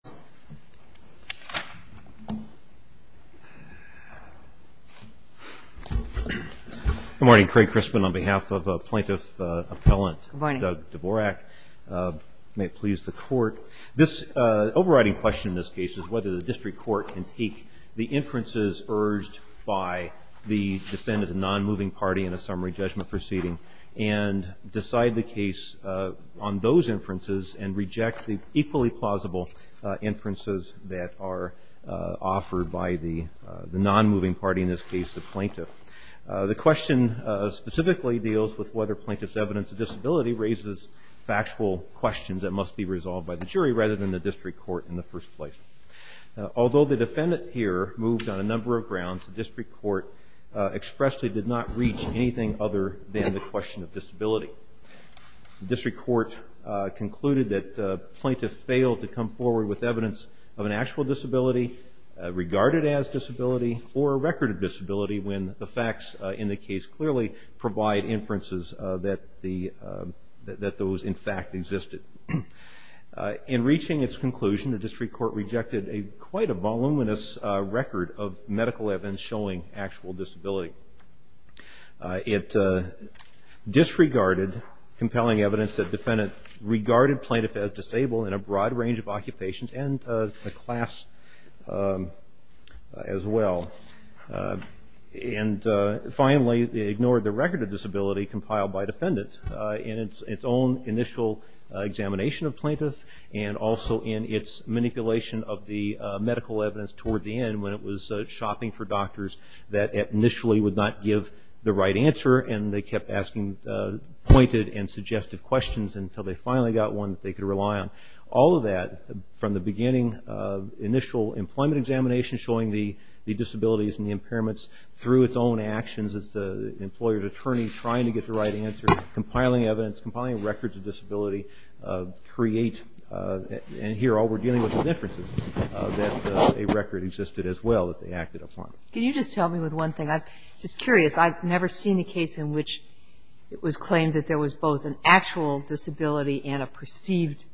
Dvorak v. Clean Water Services Good morning, Craig Crispin. On behalf of Plaintiff Appellant Doug Dvorak, may it please the Court. This overriding question in this case is whether the District Court can take the inferences urged by the defendant, a non-moving party in a summary judgment proceeding, and decide the case on those inferences and reject the equally plausible inferences that are offered by the non-moving party, in this case the plaintiff. The question specifically deals with whether plaintiff's evidence of disability raises factual questions that must be resolved by the jury rather than the District Court in the first place. Although the defendant here moved on a number of grounds, the District Court expressly did not reach anything other than the question of disability. The District Court concluded that plaintiff failed to come forward with evidence of an actual disability, regarded as disability, or a record of disability when the facts in the case clearly provide inferences that those in fact existed. In reaching its conclusion, the District Court rejected quite a voluminous record of medical evidence showing actual disability. It disregarded compelling evidence that defendant regarded plaintiff as disabled in a broad range of occupations and a class as well, and finally ignored the record of disability compiled by defendant in its own initial examination of plaintiff and also in its manipulation of the medical evidence toward the end when it was shopping for doctors that initially would not give the right answer and they kept asking pointed and suggestive questions until they finally got one that they could rely on. All of that, from the beginning of initial employment examination showing the disabilities and impairments through its own actions as the employer's attorney trying to get the right answer, and here all we're dealing with is inferences that a record existed as well that they acted upon. Can you just help me with one thing? I'm just curious. I've never seen a case in which it was claimed that there was both an actual disability and a perceived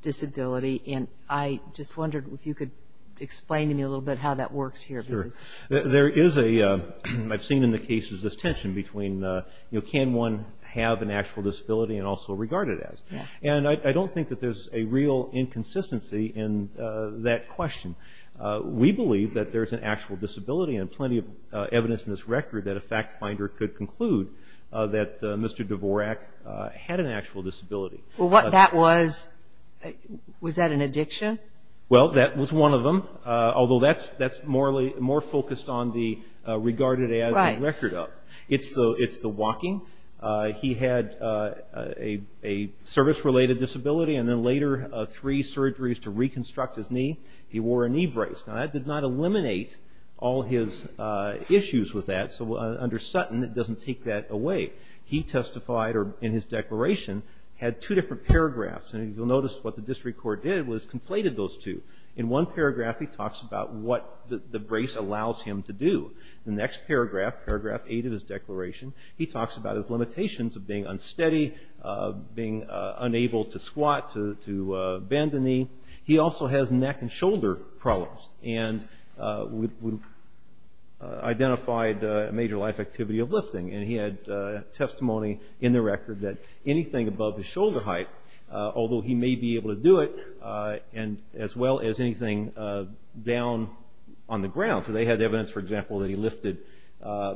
disability, and I just wondered if you could explain to me a little bit how that works here. Sure. There is a, I've seen in the cases, this tension between can one have an actual disability and also regard it as? And I don't think that there's a real inconsistency in that question. We believe that there's an actual disability and plenty of evidence in this record that a fact finder could conclude that Mr. Dvorak had an actual disability. Well, what that was, was that an addiction? Well, that was one of them, although that's more focused on the regarded as record of. Right. It's the walking. He had a service-related disability and then later three surgeries to reconstruct his knee. He wore a knee brace. Now, that did not eliminate all his issues with that, so under Sutton it doesn't take that away. He testified, or in his declaration, had two different paragraphs, and you'll notice what the district court did was conflated those two. In one paragraph he talks about what the brace allows him to do. The next paragraph, paragraph eight of his declaration, he talks about his limitations of being unsteady, of being unable to squat, to bend a knee. He also has neck and shoulder problems and identified a major life activity of lifting, and he had testimony in the record that anything above his shoulder height, although he may be able to do it, as well as anything down on the ground. So they had evidence, for example, that he lifted, I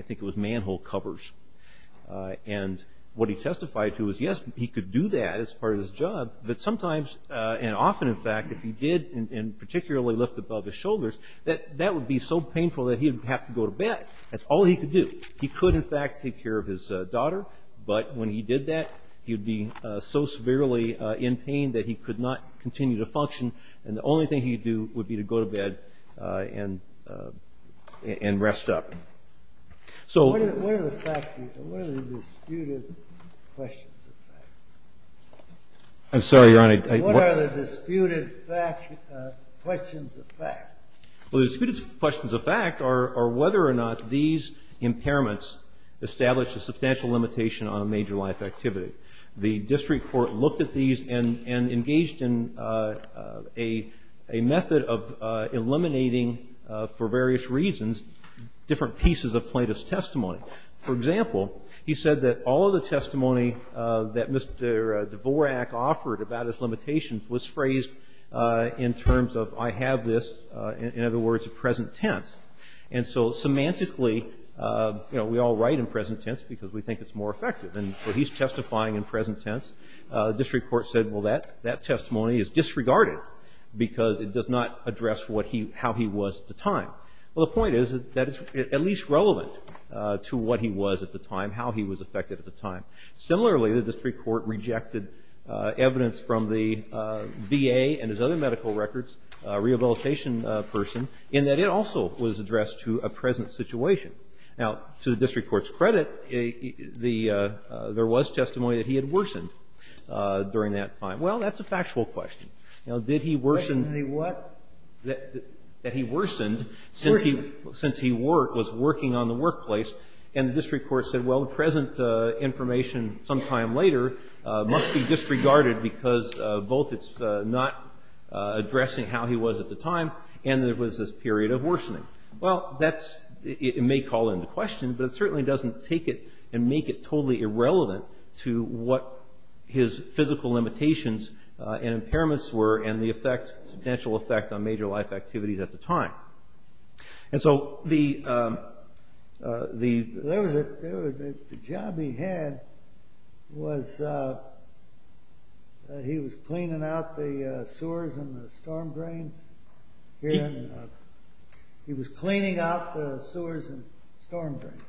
think it was manhole covers. And what he testified to was, yes, he could do that as part of his job, but sometimes and often, in fact, if he did particularly lift above his shoulders, that would be so painful that he would have to go to bed. That's all he could do. He could, in fact, take care of his daughter, but when he did that, he would be so severely in pain that he could not continue to function, and the only thing he could do would be to go to bed and rest up. So what are the disputed questions of fact? I'm sorry, Your Honor. What are the disputed questions of fact? Well, the disputed questions of fact are whether or not these impairments established a substantial limitation on a major life activity. The district court looked at these and engaged in a method of eliminating for various reasons different pieces of plaintiff's testimony. For example, he said that all of the testimony that Mr. Dvorak offered about his in other words, present tense, and so semantically, you know, we all write in present tense because we think it's more effective, and so he's testifying in present tense. The district court said, well, that testimony is disregarded because it does not address how he was at the time. Well, the point is that it's at least relevant to what he was at the time, how he was affected at the time. Similarly, the district court rejected evidence from the VA and his other medical records, a rehabilitation person, in that it also was addressed to a present situation. Now, to the district court's credit, there was testimony that he had worsened during that time. Well, that's a factual question. Now, did he worsen the what? That he worsened since he was working on the workplace, and the district court said, well, the present information sometime later must be disregarded because both it's not addressing how he was at the time, and there was this period of worsening. Well, that's – it may call into question, but it certainly doesn't take it and make it totally irrelevant to what his physical limitations and impairments were and the effect, potential effect, on major life activities at the time. And so the – The job he had was he was cleaning out the sewers and the storm drains. He was cleaning out the sewers and storm drains.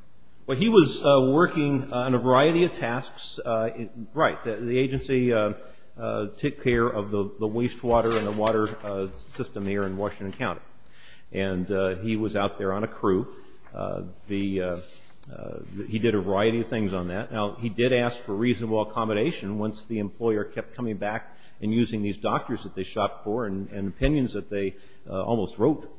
Well, he was working on a variety of tasks. Right. The agency took care of the wastewater and the water system here in Washington County, and he was out there on a crew. He did a variety of things on that. Now, he did ask for reasonable accommodation once the employer kept coming back and using these doctors that they shopped for and opinions that they almost wrote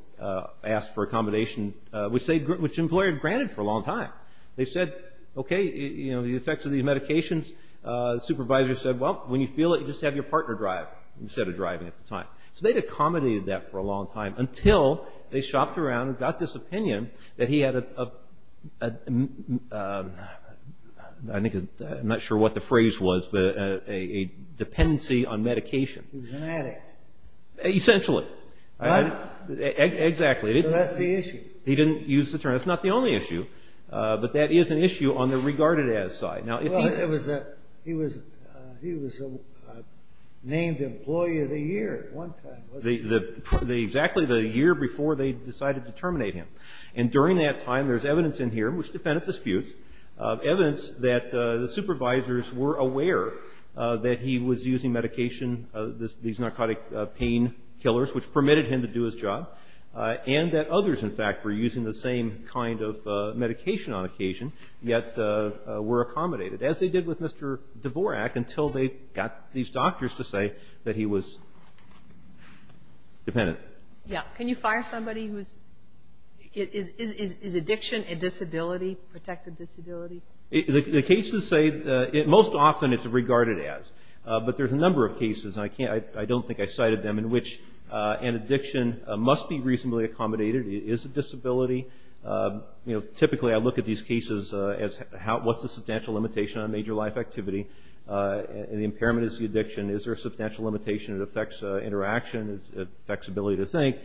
asked for accommodation, which they – which the employer had granted for a long time. They said, okay, you know, the effects of these medications. The supervisor said, well, when you feel it, you just have your partner drive instead of driving at the time. So they'd accommodated that for a long time until they shopped around and got this opinion that he had a – I think – I'm not sure what the phrase was, but a dependency on medication. He was an addict. Essentially. Right. Exactly. So that's the issue. He didn't use the term. That's not the only issue, but that is an issue on the regarded-as side. Now, if he – Well, it was – he was a named employee of the year at one time, wasn't he? Exactly the year before they decided to terminate him. And during that time, there's evidence in here, which defended disputes, evidence that the supervisors were aware that he was using medication, these narcotic pain killers, which permitted him to do his job, and that others, in fact, were using the same kind of medication on occasion, yet were accommodated, as they did with Mr. Dvorak, until they got these doctors to say that he was dependent. Yeah. Can you fire somebody who's – is addiction a disability, protected disability? The cases say – most often it's regarded-as, but there's a number of cases, and I can't – I don't think I cited them, in which an addiction must be reasonably accommodated. It is a disability. You know, typically I look at these cases as how – what's the substantial limitation on major life activity? And the impairment is the addiction. Is there a substantial limitation? It affects interaction. It affects ability to think.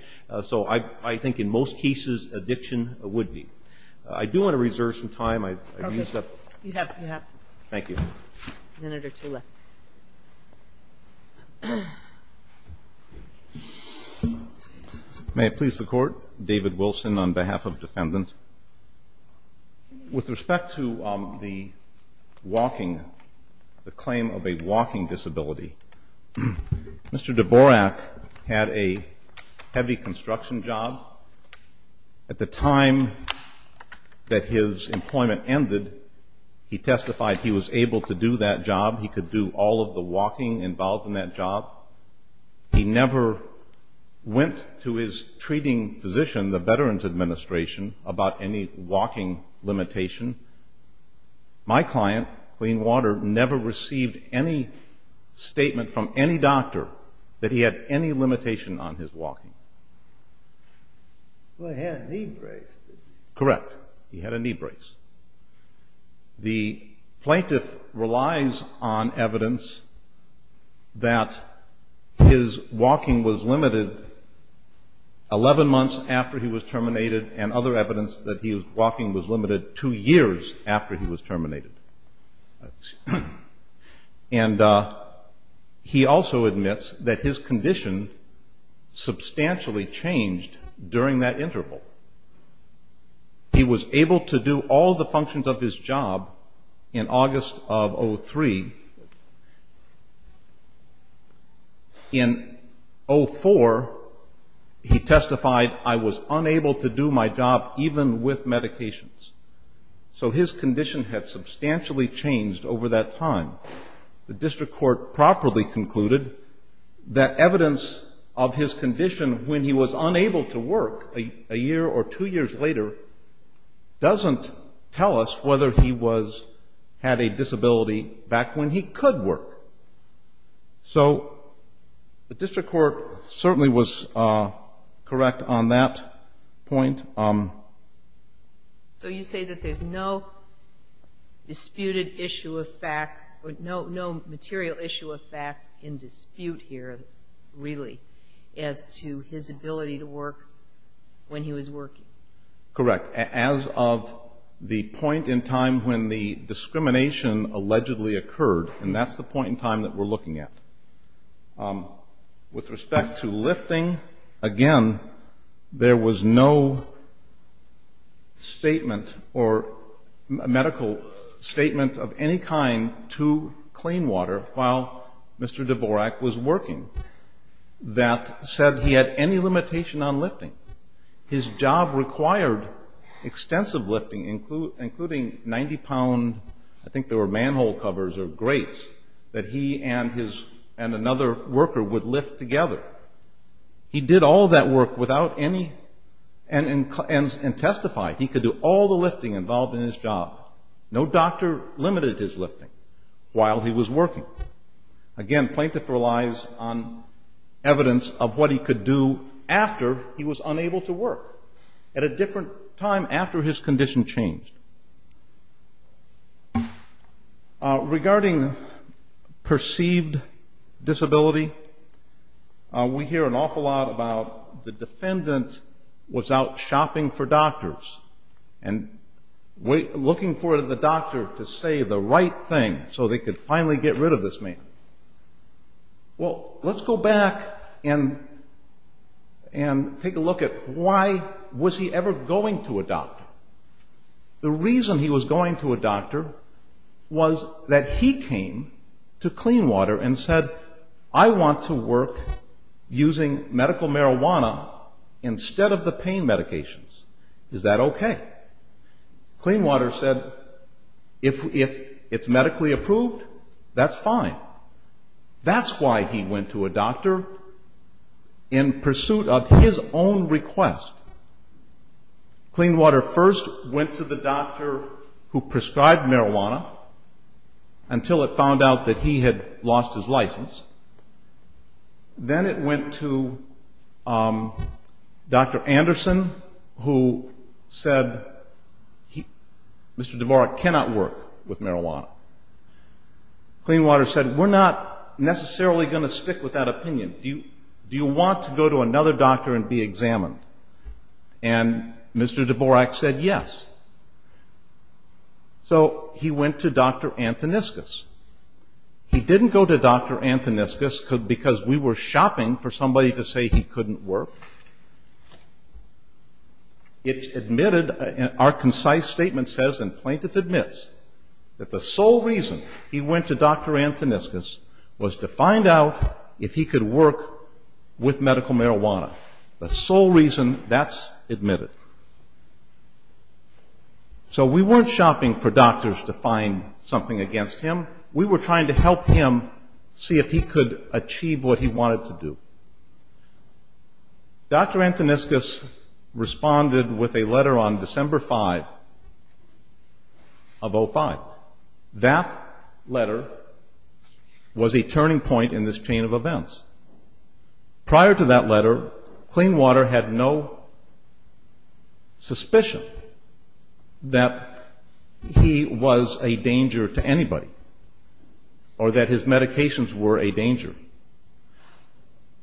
So I think in most cases, addiction would be. I do want to reserve some time. I've used up – Perfect. You have. Thank you. Senator Tula. May it please the Court. David Wilson on behalf of defendants. With respect to the walking, the claim of a walking disability, Mr. Dvorak had a heavy construction job. At the time that his employment ended, he testified he was able to do that job. He could do all of the walking involved in that job. He never went to his treating physician, the Veterans Administration, about any walking limitation. My client, Clean Water, never received any statement from any doctor that he had any limitation on his walking. Well, he had a knee brace, didn't he? Correct. He had a knee brace. The plaintiff relies on evidence that his walking was limited 11 months after he was terminated and other evidence that his walking was limited two years after he was terminated. And he also admits that his condition substantially changed during that interval. He was able to do all the functions of his job in August of 2003. In 2004, he testified, I was unable to do my job even with medications. So his condition had substantially changed over that time. The district court properly concluded that evidence of his condition when he was unable to work a year or two years later doesn't tell us whether he had a disability back when he could work. So the district court certainly was correct on that point. So you say that there's no disputed issue of fact, no material issue of fact in dispute here, really, as to his ability to work when he was working? Correct. As of the point in time when the discrimination allegedly occurred, and that's the point in time that we're looking at. With respect to lifting, again, there was no statement or medical statement of any kind to Clean Water while Mr. Dvorak was working that said he had any limitation on lifting. His job required extensive lifting, including 90-pound, I think they were manhole covers or grates, that he and another worker would lift together. He did all that work and testified. He could do all the lifting involved in his job. No doctor limited his lifting while he was working. Again, plaintiff relies on evidence of what he could do after he was unable to work, at a different time after his condition changed. Regarding perceived disability, we hear an awful lot about the defendant was out shopping for doctors and looking for the doctor to say the right thing so they could finally get rid of this man. Well, let's go back and take a look at why was he ever going to a doctor? The reason he was going to a doctor was that he came to Clean Water and said, I want to work using medical marijuana instead of the pain medications. Is that okay? Clean Water said, if it's medically approved, that's fine. That's why he went to a doctor in pursuit of his own request. Clean Water first went to the doctor who prescribed marijuana until it found out that he had lost his license. Then it went to Dr. Anderson, who said, Mr. DeVore cannot work with marijuana. Clean Water said, we're not necessarily going to stick with that opinion. Do you want to go to another doctor and be examined? And Mr. DeVore said, yes. So he went to Dr. Antoniscus. He didn't go to Dr. Antoniscus because we were shopping for somebody to say he couldn't work. It's admitted, our concise statement says, and plaintiff admits, that the sole reason he went to Dr. Antoniscus was to find out if he could work with medical marijuana. The sole reason, that's admitted. So we weren't shopping for doctors to find something against him. We were trying to help him see if he could achieve what he wanted to do. Dr. Antoniscus responded with a letter on December 5 of 2005. That letter was a turning point in this chain of events. Prior to that letter, Clean Water had no suspicion that he was a danger to anybody or that his medications were a danger.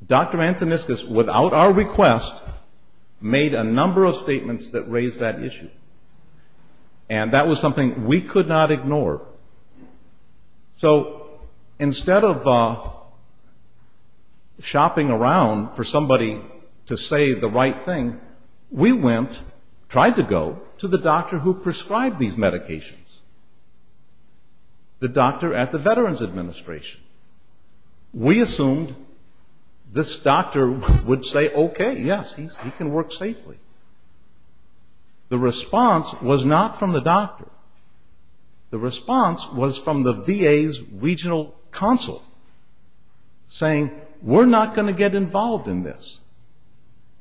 Dr. Antoniscus, without our request, made a number of statements that raised that issue. And that was something we could not ignore. So instead of shopping around for somebody to say the right thing, we went, tried to go, to the doctor who prescribed these medications. The doctor at the Veterans Administration. We assumed this doctor would say, okay, yes, he can work safely. The response was not from the doctor. The response was from the VA's regional council, saying, we're not going to get involved in this.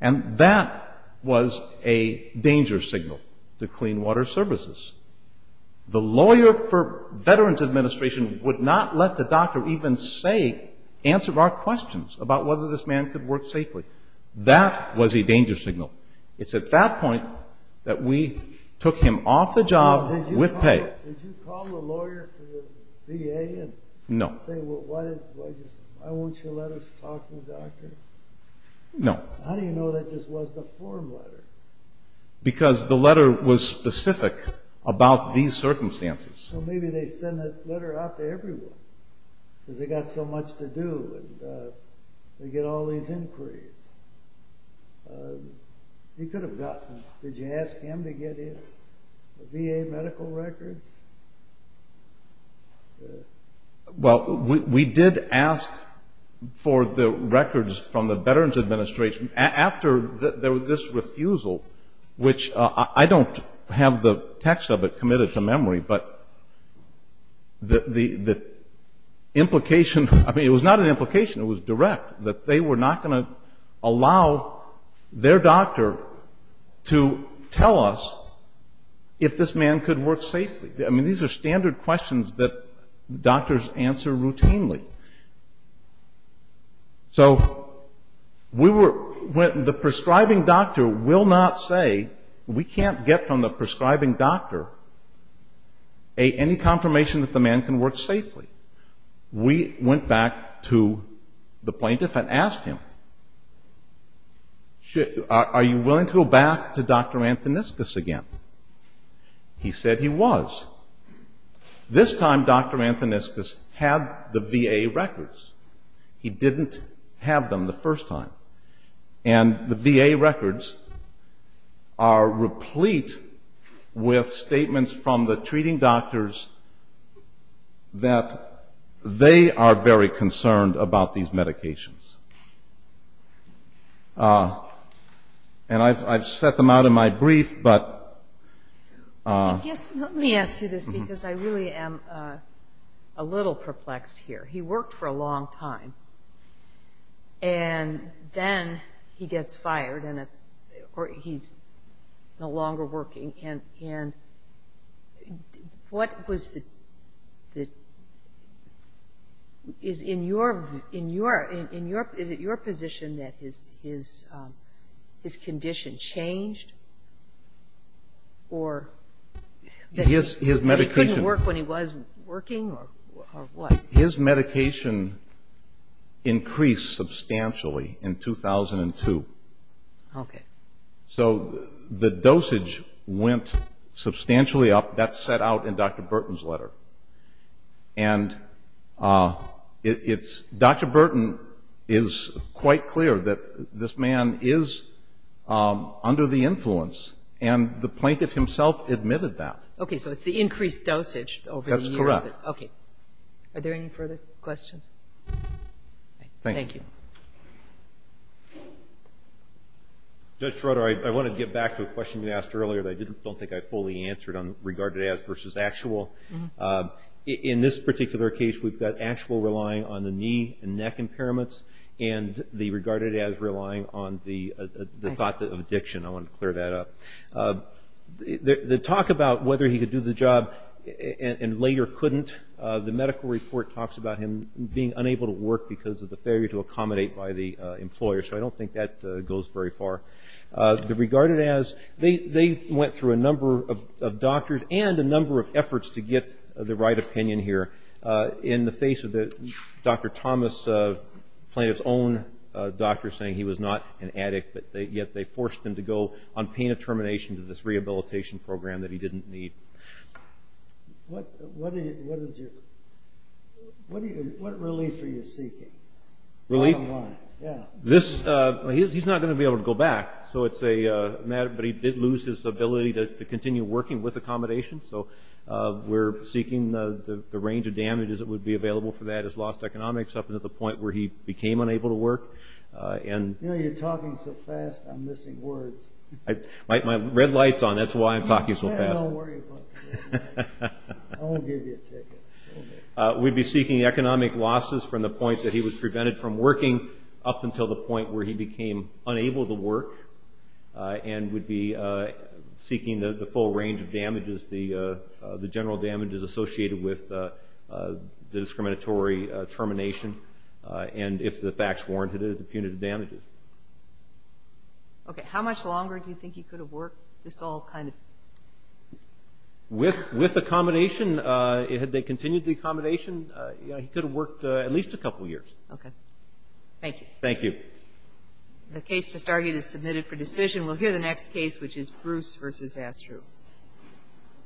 And that was a danger signal to Clean Water Services. The lawyer for Veterans Administration would not let the doctor even say, answer our questions about whether this man could work safely. That was a danger signal. It's at that point that we took him off the job with pay. No. No. How do you know that this was the form letter? Because the letter was specific about these circumstances. So maybe they sent the letter out to everyone because they got so much to do and they get all these inquiries. He could have gotten them. Did you ask him to get his VA medical records? Well, we did ask for the records from the Veterans Administration after there was this refusal, which I don't have the text of it committed to memory, but the implication, I mean, it was not an implication. It was direct, that they were not going to allow their doctor to tell us if this man could work safely. I mean, these are standard questions that doctors answer routinely. So the prescribing doctor will not say, we can't get from the prescribing doctor any confirmation that the man can work safely. We went back to the plaintiff and asked him, are you willing to go back to Dr. Antoniscus again? He said he was. This time Dr. Antoniscus had the VA records. He didn't have them the first time. And the VA records are replete with statements from the treating doctors that they are very concerned about these medications. And I've set them out in my brief, but... Let me ask you this, because I really am a little perplexed here. He worked for a long time, and then he gets fired, or he's no longer working, and what was the... Is it your position that his condition changed, or that he couldn't work when he was working, or what? His medication increased substantially in 2002. So the dosage went substantially up. That's set out in Dr. Burton's letter. And Dr. Burton is quite clear that this man is under the influence, and the plaintiff himself admitted that. Okay. So it's the increased dosage over the years. Are there any further questions? Judge Schroeder, I want to get back to a question you asked earlier that I don't think I fully answered on regarded as versus actual. In this particular case, we've got actual relying on the knee and neck impairments, and the regarded as relying on the thought of addiction. I want to clear that up. The talk about whether he could do the job and later couldn't, the medical report talks about him being unable to work because of the failure to accommodate by the employer, so I don't think that goes very far. The regarded as, they went through a number of doctors and a number of efforts to get the right opinion here in the face of Dr. Thomas, the plaintiff's own doctor saying he was not an addict, yet they forced him to go on pain of termination to this rehabilitation program that he didn't need. What relief are you seeking? Relief? He's not going to be able to go back, but he did lose his ability to continue working with accommodation, so we're seeking the range of damages that would be available for that, his lost economics up to the point where he became unable to work. You're talking so fast, I'm missing words. My red light's on, that's why I'm talking so fast. I won't give you a ticket. We'd be seeking economic losses from the point that he was prevented from working up until the point where he became unable to work, and we'd be seeking the full range of damages, the general damages associated with the discriminatory termination, and if the facts warranted it, the punitive damages. Okay, how much longer do you think he could have worked, this all kind of? With accommodation, had they continued the accommodation, he could have worked at least a couple years. Okay, thank you. Thank you.